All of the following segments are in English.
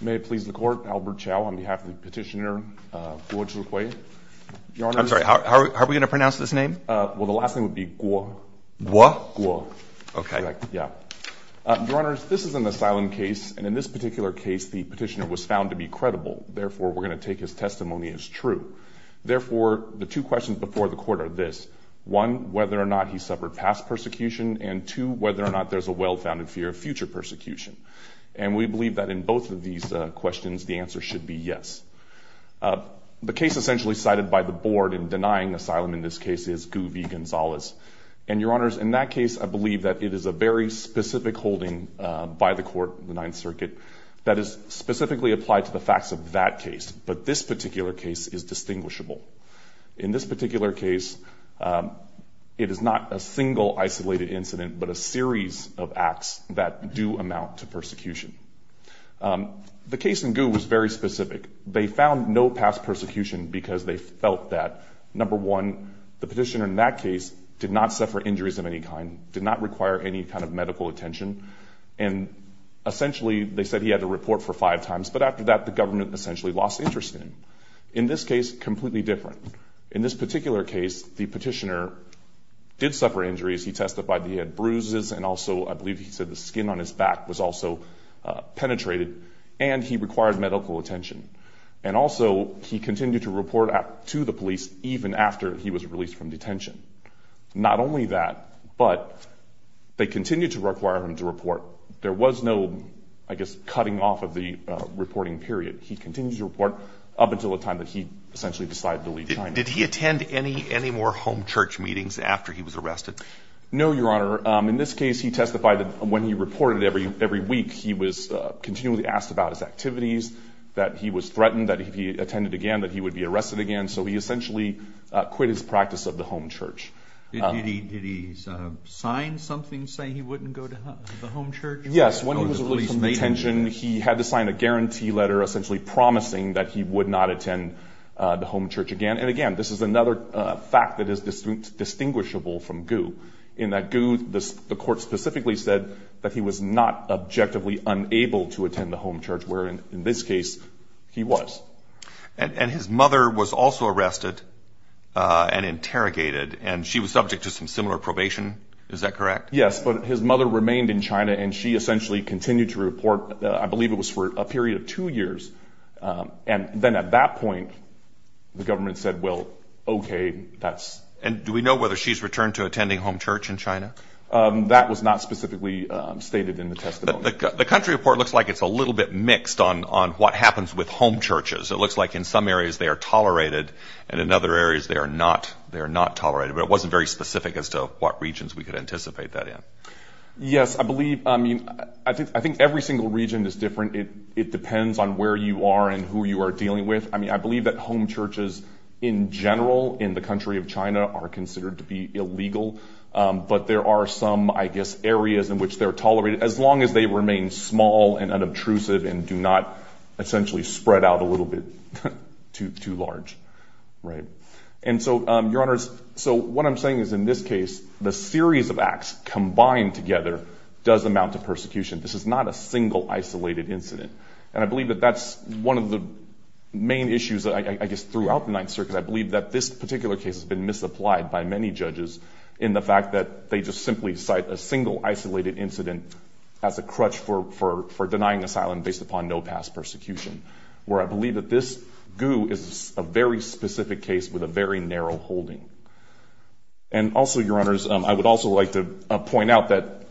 May it please the court, Albert Chow on behalf of the petitioner Guo Zhihui. I'm sorry, how are we going to pronounce this name? Well, the last name would be Guo. Guo? Guo. Okay. Yeah. Your Honor, this is an asylum case, and in this particular case, the petitioner was found to be credible. Therefore, we're going to take his testimony as true. Therefore, the two questions before the court are this. One, whether or not he suffered past persecution, and two, whether or not there's a well-founded fear of future persecution. And we believe that in both of these questions, the answer should be yes. The case essentially cited by the board in denying asylum in this case is Guo v. Gonzalez. And, Your Honors, in that case, I believe that it is a very specific holding by the court, the Ninth Circuit, that is specifically applied to the facts of that case, but this particular case is distinguishable. In this particular case, it is not a single isolated incident, but a series of acts that do amount to persecution. The case in Guo was very specific. They found no past persecution because they felt that, number one, the petitioner in that case did not suffer injuries of any kind, did not require any kind of medical attention, and essentially they said he had to report for five times, but after that, the government essentially lost interest in him. In this case, completely different. In this particular case, the petitioner did suffer injuries. He testified that he had bruises, and also I believe he said the skin on his back was also penetrated, and he required medical attention. And also he continued to report to the police even after he was released from detention. Not only that, but they continued to require him to report. There was no, I guess, cutting off of the reporting period. He continued to report up until the time that he essentially decided to leave China. Did he attend any more home church meetings after he was arrested? No, Your Honor. In this case, he testified that when he reported every week, he was continually asked about his activities, that he was threatened, that if he attended again that he would be arrested again, so he essentially quit his practice of the home church. Did he sign something saying he wouldn't go to the home church? Yes. When he was released from detention, he had to sign a guarantee letter essentially promising that he would not attend the home church again. And again, this is another fact that is distinguishable from Gu, in that Gu, the court specifically said that he was not objectively unable to attend the home church, where in this case he was. And his mother was also arrested and interrogated, and she was subject to some similar probation, is that correct? Yes, but his mother remained in China, and she essentially continued to report, I believe it was for a period of two years, and then at that point the government said, well, okay, that's... And do we know whether she's returned to attending home church in China? That was not specifically stated in the testimony. The country report looks like it's a little bit mixed on what happens with home churches. It looks like in some areas they are tolerated, and in other areas they are not tolerated, but it wasn't very specific as to what regions we could anticipate that in. Yes, I believe, I mean, I think every single region is different. It depends on where you are and who you are dealing with. I mean, I believe that home churches in general in the country of China are considered to be illegal, but there are some, I guess, areas in which they're tolerated, as long as they remain small and unobtrusive and do not essentially spread out a little bit too large. And so, Your Honors, so what I'm saying is in this case, the series of acts combined together does amount to persecution. This is not a single isolated incident, and I believe that that's one of the main issues, I guess, throughout the Ninth Circuit. I believe that this particular case has been misapplied by many judges in the fact that they just simply cite a single isolated incident as a crutch for denying asylum based upon no past persecution, where I believe that this Gu is a very specific case with a very narrow holding. And also, Your Honors, I would also like to point out that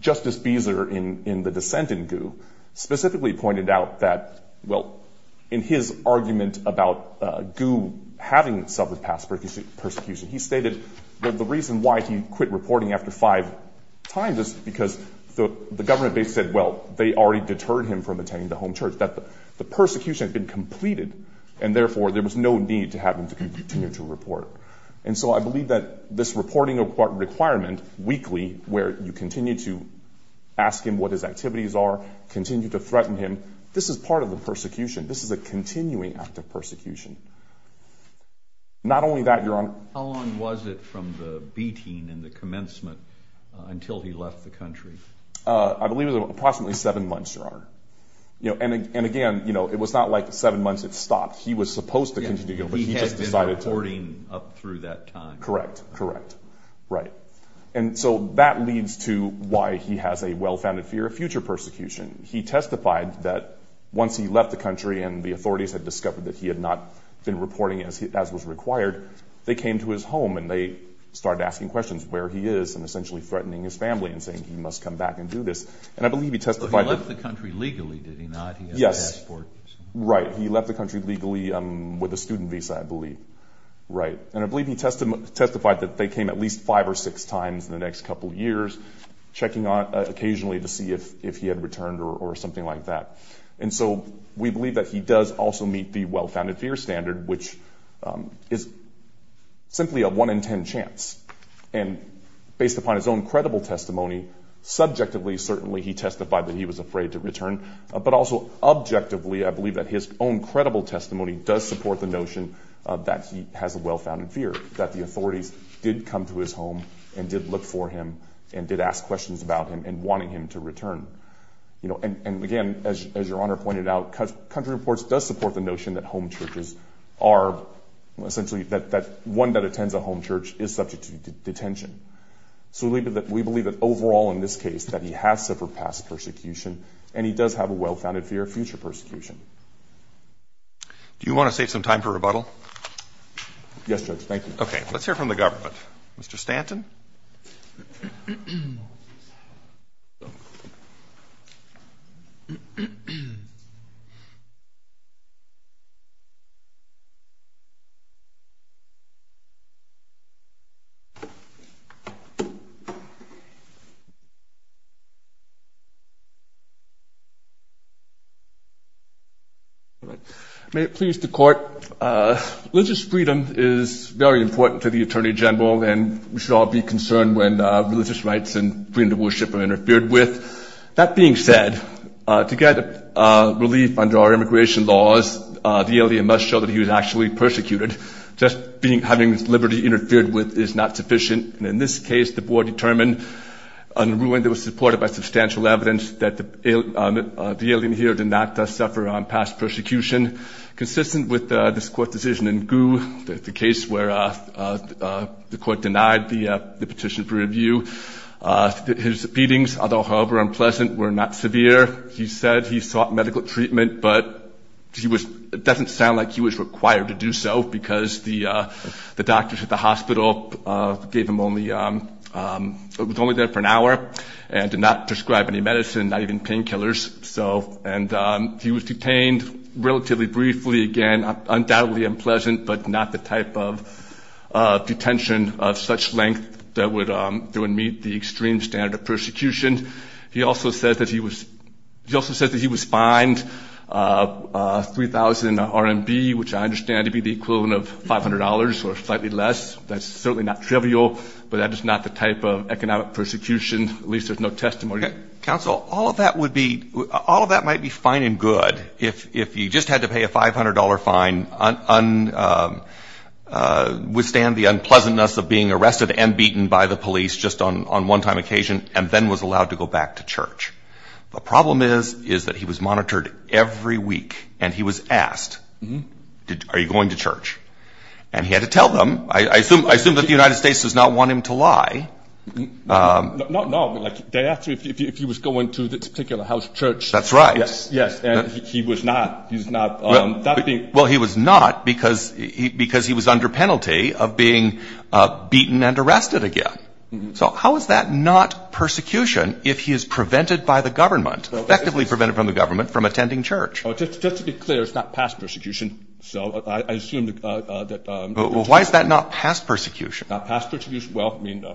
Justice Beezer, in the dissent in Gu, specifically pointed out that, well, in his argument about Gu having suffered past persecution, he stated that the reason why he quit reporting after five times is because the government basically said, well, they already deterred him from attending the home church, that the persecution had been completed, and therefore there was no need to have him continue to report. And so I believe that this reporting requirement weekly, where you continue to ask him what his activities are, continue to threaten him, this is part of the persecution. This is a continuing act of persecution. Not only that, Your Honor. How long was it from the beating and the commencement until he left the country? I believe it was approximately seven months, Your Honor. And again, it was not like seven months it stopped. He was supposed to continue, but he just decided to. He had been reporting up through that time. Correct. Correct. Right. And so that leads to why he has a well-founded fear of future persecution. He testified that once he left the country and the authorities had discovered that he had not been reporting as was required, they came to his home and they started asking questions, where he is and essentially threatening his family and saying he must come back and do this. He left the country legally, did he not? Yes. Right. He left the country legally with a student visa, I believe. Right. And I believe he testified that they came at least five or six times in the next couple of years, checking occasionally to see if he had returned or something like that. And so we believe that he does also meet the well-founded fear standard, which is simply a one-in-ten chance. And based upon his own credible testimony, subjectively certainly he testified that he was afraid to return, but also objectively I believe that his own credible testimony does support the notion that he has a well-founded fear, that the authorities did come to his home and did look for him and did ask questions about him and wanting him to return. And again, as Your Honor pointed out, country reports does support the notion that home churches are essentially that one that attends a home church is subject to detention. So we believe that overall in this case that he has suffered past persecution and he does have a well-founded fear of future persecution. Do you want to save some time for rebuttal? Yes, Judge. Thank you. Okay. Let's hear from the government. Mr. Stanton? May it please the Court. Religious freedom is very important to the Attorney General and we should all be concerned when religious rights and freedom of worship are interfered with. That being said, to get relief under our immigration laws, the alien must show that he was actually persecuted. Just having liberty interfered with is not sufficient. And in this case, the Board determined, in a ruling that was supported by substantial evidence, that the alien here did not suffer past persecution. Consistent with this Court decision in Gu, the case where the Court denied the petition for review, his beatings, although however unpleasant, were not severe. He said he sought medical treatment, but it doesn't sound like he was required to do so because the doctors at the hospital gave him only... he was only there for an hour and did not prescribe any medicine, not even painkillers. And he was detained relatively briefly. Again, undoubtedly unpleasant, but not the type of detention of such length that would meet the extreme standard of persecution. He also said that he was... he also said that he was fined 3,000 RMB, which I understand to be the equivalent of $500 or slightly less. That's certainly not trivial, but that is not the type of economic persecution, at least there's no testimony. Counsel, all of that would be... all of that might be fine and good if he just had to pay a $500 fine, withstand the unpleasantness of being arrested and beaten by the police just on one-time occasion, and then was allowed to go back to church. The problem is that he was monitored every week, and he was asked, are you going to church? And he had to tell them. I assume that the United States does not want him to lie. Not at all. They asked him if he was going to this particular house of church. That's right. Yes, and he was not. Well, he was not because he was under penalty of being beaten and arrested again. So how is that not persecution if he is prevented by the government, effectively prevented from the government, from attending church? Just to be clear, it's not past persecution. So I assume that... Well, why is that not past persecution? Not past persecution? Well, I mean...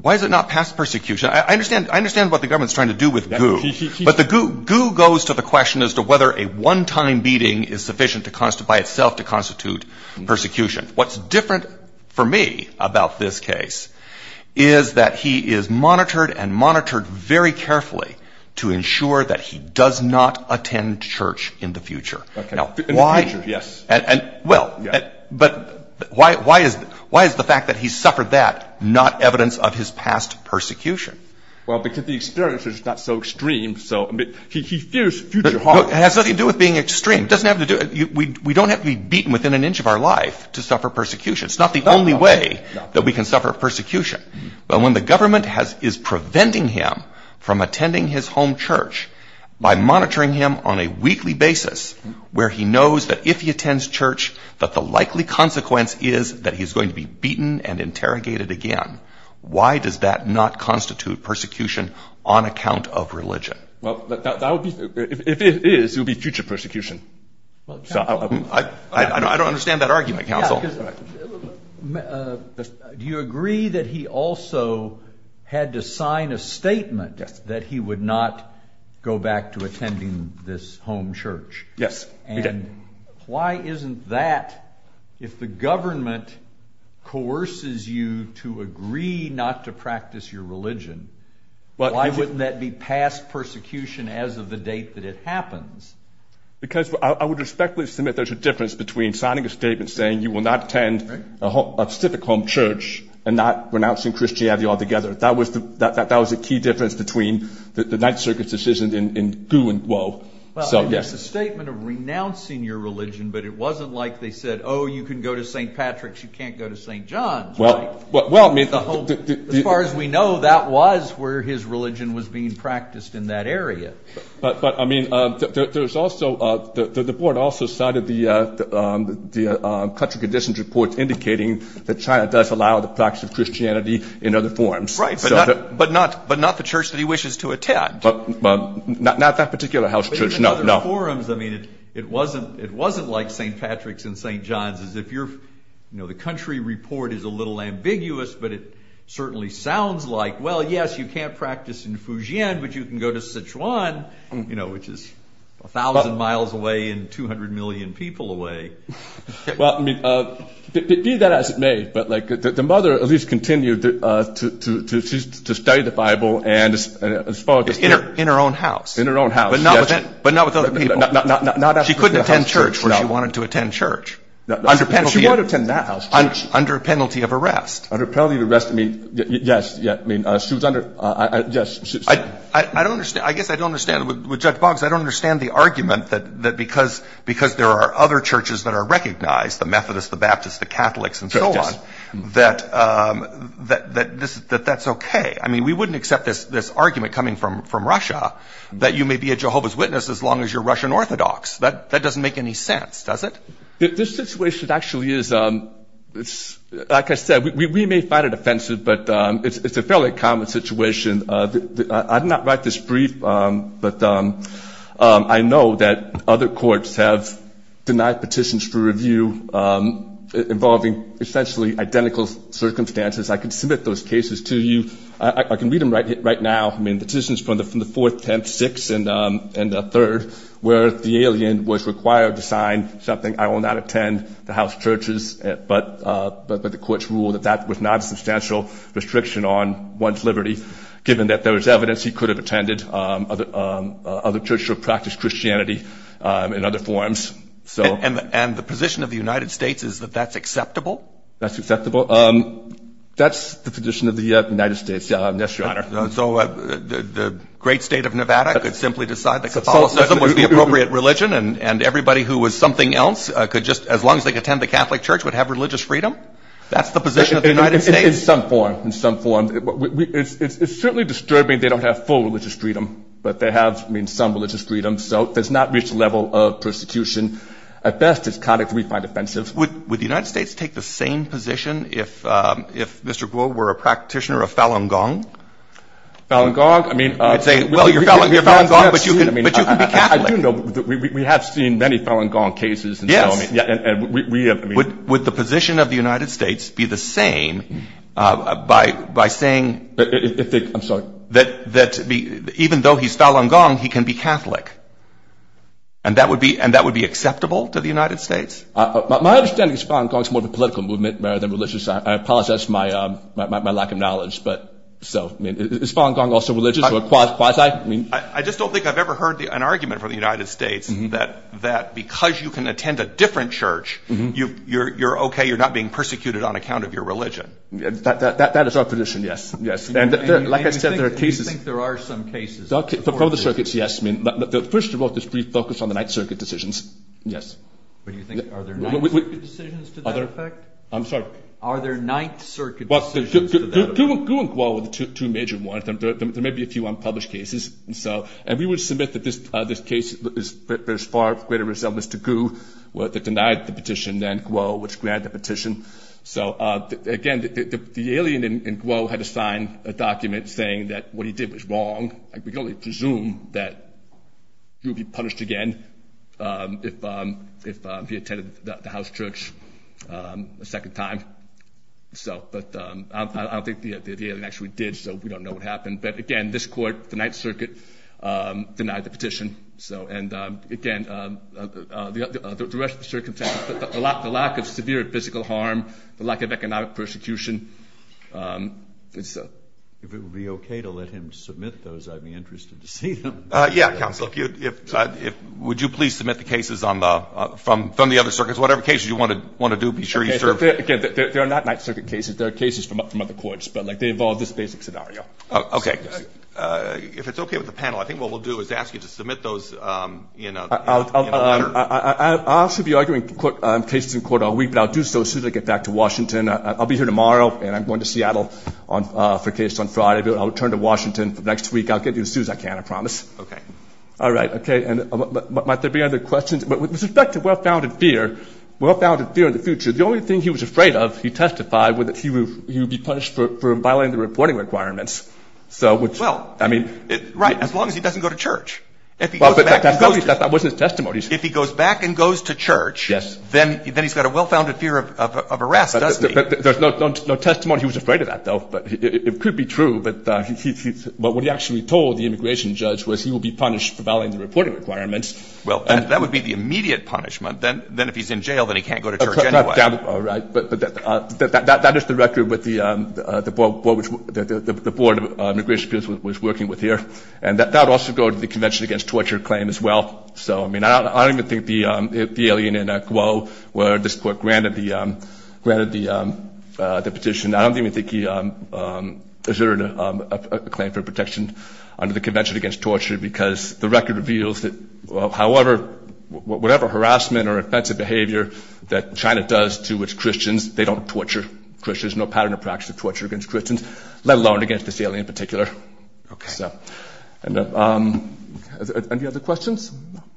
Why is it not past persecution? I understand what the government is trying to do with goo, but the goo goes to the question as to whether a one-time beating is sufficient by itself to constitute persecution. What's different for me about this case is that he is monitored and monitored very carefully to ensure that he does not attend church in the future. In the future, yes. Well, but why is the fact that he suffered that not evidence of his past persecution? Well, because the experience is not so extreme. He fears future harm. It has nothing to do with being extreme. We don't have to be beaten within an inch of our life to suffer persecution. It's not the only way that we can suffer persecution. But when the government is preventing him from attending his home church by monitoring him on a weekly basis where he knows that if he attends church that the likely consequence is that he is going to be beaten and interrogated again, why does that not constitute persecution on account of religion? If it is, it would be future persecution. I don't understand that argument, counsel. Do you agree that he also had to sign a statement that he would not go back to attending this home church? Yes, we did. And why isn't that, if the government coerces you to agree not to practice your religion, why wouldn't that be past persecution as of the date that it happens? Because I would respectfully submit there's a difference between signing a statement saying you will not attend a civic home church and not renouncing Christianity altogether. That was the key difference between the Ninth Circuit's decision in Gu and Guo. It's a statement of renouncing your religion, but it wasn't like they said, oh, you can go to St. Patrick's, you can't go to St. John's. As far as we know, that was where his religion was being practiced in that area. But, I mean, the board also cited the country conditions report indicating that China does allow the practice of Christianity in other forums. Right, but not the church that he wishes to attend. Not that particular house church, no. But even in other forums, it wasn't like St. Patrick's and St. John's. The country report is a little ambiguous, but it certainly sounds like, well, yes, you can't practice in Fujian, but you can go to Sichuan, which is 1,000 miles away and 200 million people away. Well, I mean, be that as it may, but the mother at least continued to study the Bible. In her own house. In her own house, yes. But not with other people. She couldn't attend church where she wanted to attend church. She wanted to attend that house church. Under penalty of arrest. Under penalty of arrest, I mean, yes. I mean, she was under, yes. I don't understand. I guess I don't understand. With Judge Boggs, I don't understand the argument that because there are other churches that are recognized, the Methodists, the Baptists, the Catholics, and so on, that that's okay. I mean, we wouldn't accept this argument coming from Russia that you may be a Jehovah's Witness as long as you're Russian Orthodox. That doesn't make any sense, does it? This situation actually is, like I said, we may find it offensive, but it's a fairly common situation. I did not write this brief, but I know that other courts have denied petitions for review involving essentially identical circumstances. I can submit those cases to you. I can read them right now. I mean, petitions from the 4th, 10th, 6th, and 3rd where the alien was required to sign something, I will not attend the house churches, but the courts ruled that that was not a substantial restriction on one's liberty, given that there was evidence he could have attended other churches or practiced Christianity in other forms. And the position of the United States is that that's acceptable? That's acceptable. That's the position of the United States, yes, Your Honor. So the great state of Nevada could simply decide that Catholicism was the appropriate religion, and everybody who was something else could just, as long as they could attend the Catholic church, would have religious freedom? That's the position of the United States? In some form, in some form. It's certainly disturbing they don't have full religious freedom, but they have, I mean, some religious freedom. So it does not reach the level of persecution. At best, it's conduct we find offensive. Would the United States take the same position if Mr. Guo were a practitioner of Falun Gong? Falun Gong? I'd say, well, you're Falun Gong, but you can be Catholic. I do know. We have seen many Falun Gong cases. Yes. And we have. Would the position of the United States be the same by saying that even though he's Falun Gong, he can be Catholic? And that would be acceptable to the United States? My understanding is Falun Gong is more of a political movement rather than religious. I apologize for my lack of knowledge. Is Falun Gong also religious or quasi? I just don't think I've ever heard an argument from the United States that because you can attend a different church, you're okay, you're not being persecuted on account of your religion. That is our position, yes. And, like I said, there are cases. Do you think there are some cases? From the circuits, yes. First of all, this brief focus on the Ninth Circuit decisions, yes. Are there Ninth Circuit decisions to that effect? I'm sorry? Are there Ninth Circuit decisions to that effect? Gu and Guo were the two major ones. There may be a few unpublished cases. And we would submit that this case bears far greater resemblance to Gu that denied the petition than Guo, which granted the petition. So, again, the alien in Guo had to sign a document saying that what he did was wrong. We can only presume that he would be punished again if he attended the house church a second time. But I don't think the alien actually did, so we don't know what happened. But, again, this court, the Ninth Circuit, denied the petition. And, again, the rest of the circuit, the lack of severe physical harm, the lack of economic persecution. If it would be okay to let him submit those, I'd be interested to see them. Yeah, Counselor, would you please submit the cases from the other circuits? Whatever cases you want to do, be sure you serve. Again, they're not Ninth Circuit cases. They're cases from other courts, but they involve this basic scenario. Okay. If it's okay with the panel, I think what we'll do is ask you to submit those in a letter. I'll actually be arguing cases in court all week, but I'll do so as soon as I get back to Washington. I'll be here tomorrow, and I'm going to Seattle for a case on Friday. I'll return to Washington next week. I'll get you as soon as I can. I promise. Okay. All right. Okay. And might there be other questions? With respect to well-founded fear, well-founded fear in the future, the only thing he was afraid of, he testified, was that he would be punished for violating the reporting requirements. Well, right, as long as he doesn't go to church. That wasn't his testimony. If he goes back and goes to church, then he's got a well-founded fear of arrest, doesn't he? There's no testimony he was afraid of that, though. It could be true, but what he actually told the immigration judge was he would be punished for violating the reporting requirements. Well, that would be the immediate punishment. Then if he's in jail, then he can't go to church anyway. All right. But that is the record that the Board of Immigration was working with here, and that would also go to the Convention Against Torture claim as well. So, I mean, I don't even think the alien in Guo, where this court granted the petition, I don't even think he asserted a claim for protection under the Convention Against Torture because the record reveals that, however, whatever harassment or offensive behavior that China does to its Christians, they don't torture Christians. There's no pattern of practice of torture against Christians, let alone against this alien in particular. Okay. So. Any other questions?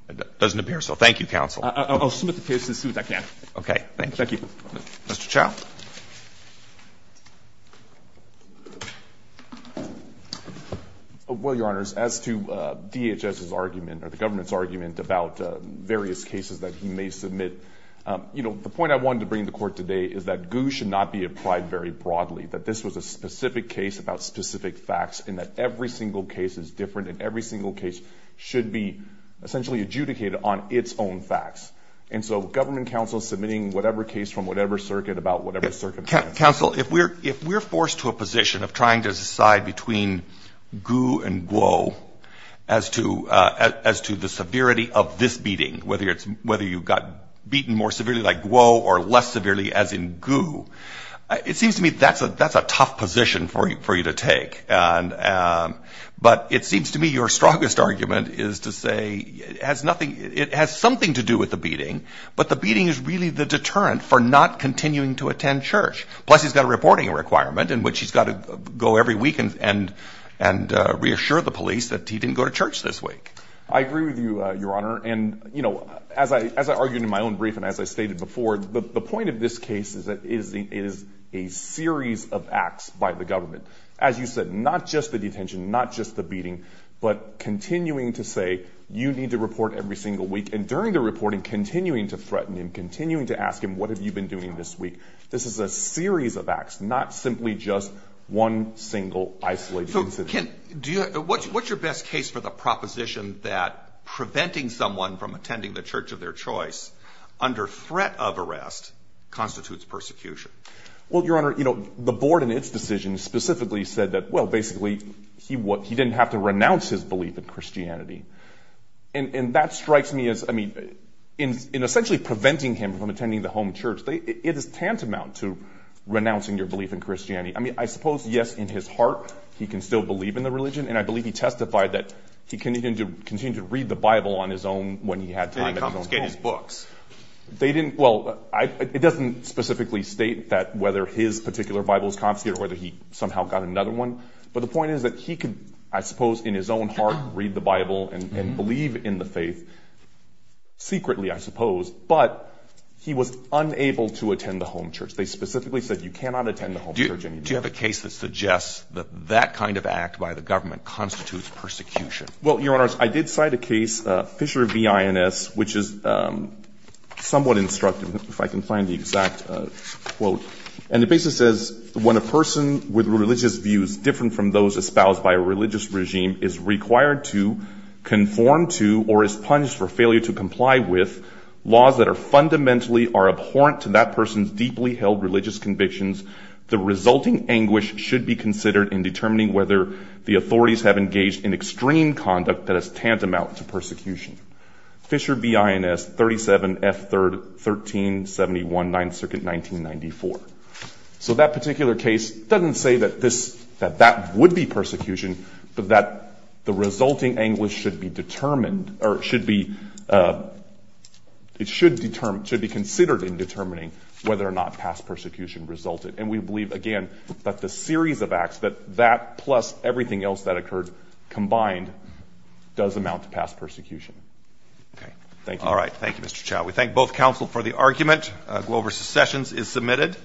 It doesn't appear so. Thank you, counsel. I'll submit the case as soon as I can. Okay. Thank you. Thank you. Mr. Chau. Well, Your Honors, as to DHS's argument or the government's argument about various cases that he may submit, you know, the point I wanted to bring to court today is that Guo should not be applied very broadly, that this was a specific case about specific facts and that every single case is different and every single case should be essentially adjudicated on its own facts. And so government counsel submitting whatever case from whatever circuit about whatever case Counsel, if we're forced to a position of trying to decide between Gu and Guo as to the severity of this beating, whether you got beaten more severely like Guo or less severely as in Gu, it seems to me that's a tough position for you to take. But it seems to me your strongest argument is to say it has something to do with the beating, but the beating is really the deterrent for not continuing to attend church. Plus, he's got a reporting requirement in which he's got to go every week and reassure the police that he didn't go to church this week. I agree with you, Your Honor. And, you know, as I argued in my own brief and as I stated before, the point of this case is that it is a series of acts by the government. As you said, not just the detention, not just the beating, but continuing to say you need to report every single week. And during the reporting, continuing to threaten him, continuing to ask him, what have you been doing this week? This is a series of acts, not simply just one single isolated incident. What's your best case for the proposition that preventing someone from attending the church of their choice under threat of arrest constitutes persecution? Well, Your Honor, you know, the board in its decision specifically said that, well, basically, he didn't have to renounce his belief in Christianity. And that strikes me as, I mean, in essentially preventing him from attending the home church, it is tantamount to renouncing your belief in Christianity. I mean, I suppose, yes, in his heart, he can still believe in the religion. And I believe he testified that he continued to read the Bible on his own when he had time at his own home. They didn't confiscate his books. They didn't – well, it doesn't specifically state that whether his particular Bible was confiscated or whether he somehow got another one. But the point is that he could, I suppose, in his own heart, read the Bible and believe in the faith, secretly, I suppose. But he was unable to attend the home church. They specifically said you cannot attend the home church. Do you have a case that suggests that that kind of act by the government constitutes persecution? Well, Your Honors, I did cite a case, Fisher v. INS, which is somewhat instructive, if I can find the exact quote. And it basically says, When a person with religious views different from those espoused by a religious regime is required to, conform to, or is punished for failure to comply with laws that are fundamentally or abhorrent to that person's deeply held religious convictions, the resulting anguish should be considered in determining whether the authorities have engaged in extreme conduct that is tantamount to persecution. Fisher v. INS, 37 F. 1371, 9th Circuit, 1994. So that particular case doesn't say that this – that that would be persecution, but that the resulting anguish should be determined – or should be – it should determine – should be considered in determining whether or not past persecution resulted. And we believe, again, that the series of acts, that that plus everything else that occurred combined, does amount to past persecution. Okay. Thank you. All right. Thank you, Mr. Chau. We thank both counsel for the argument. Glover's secession is submitted.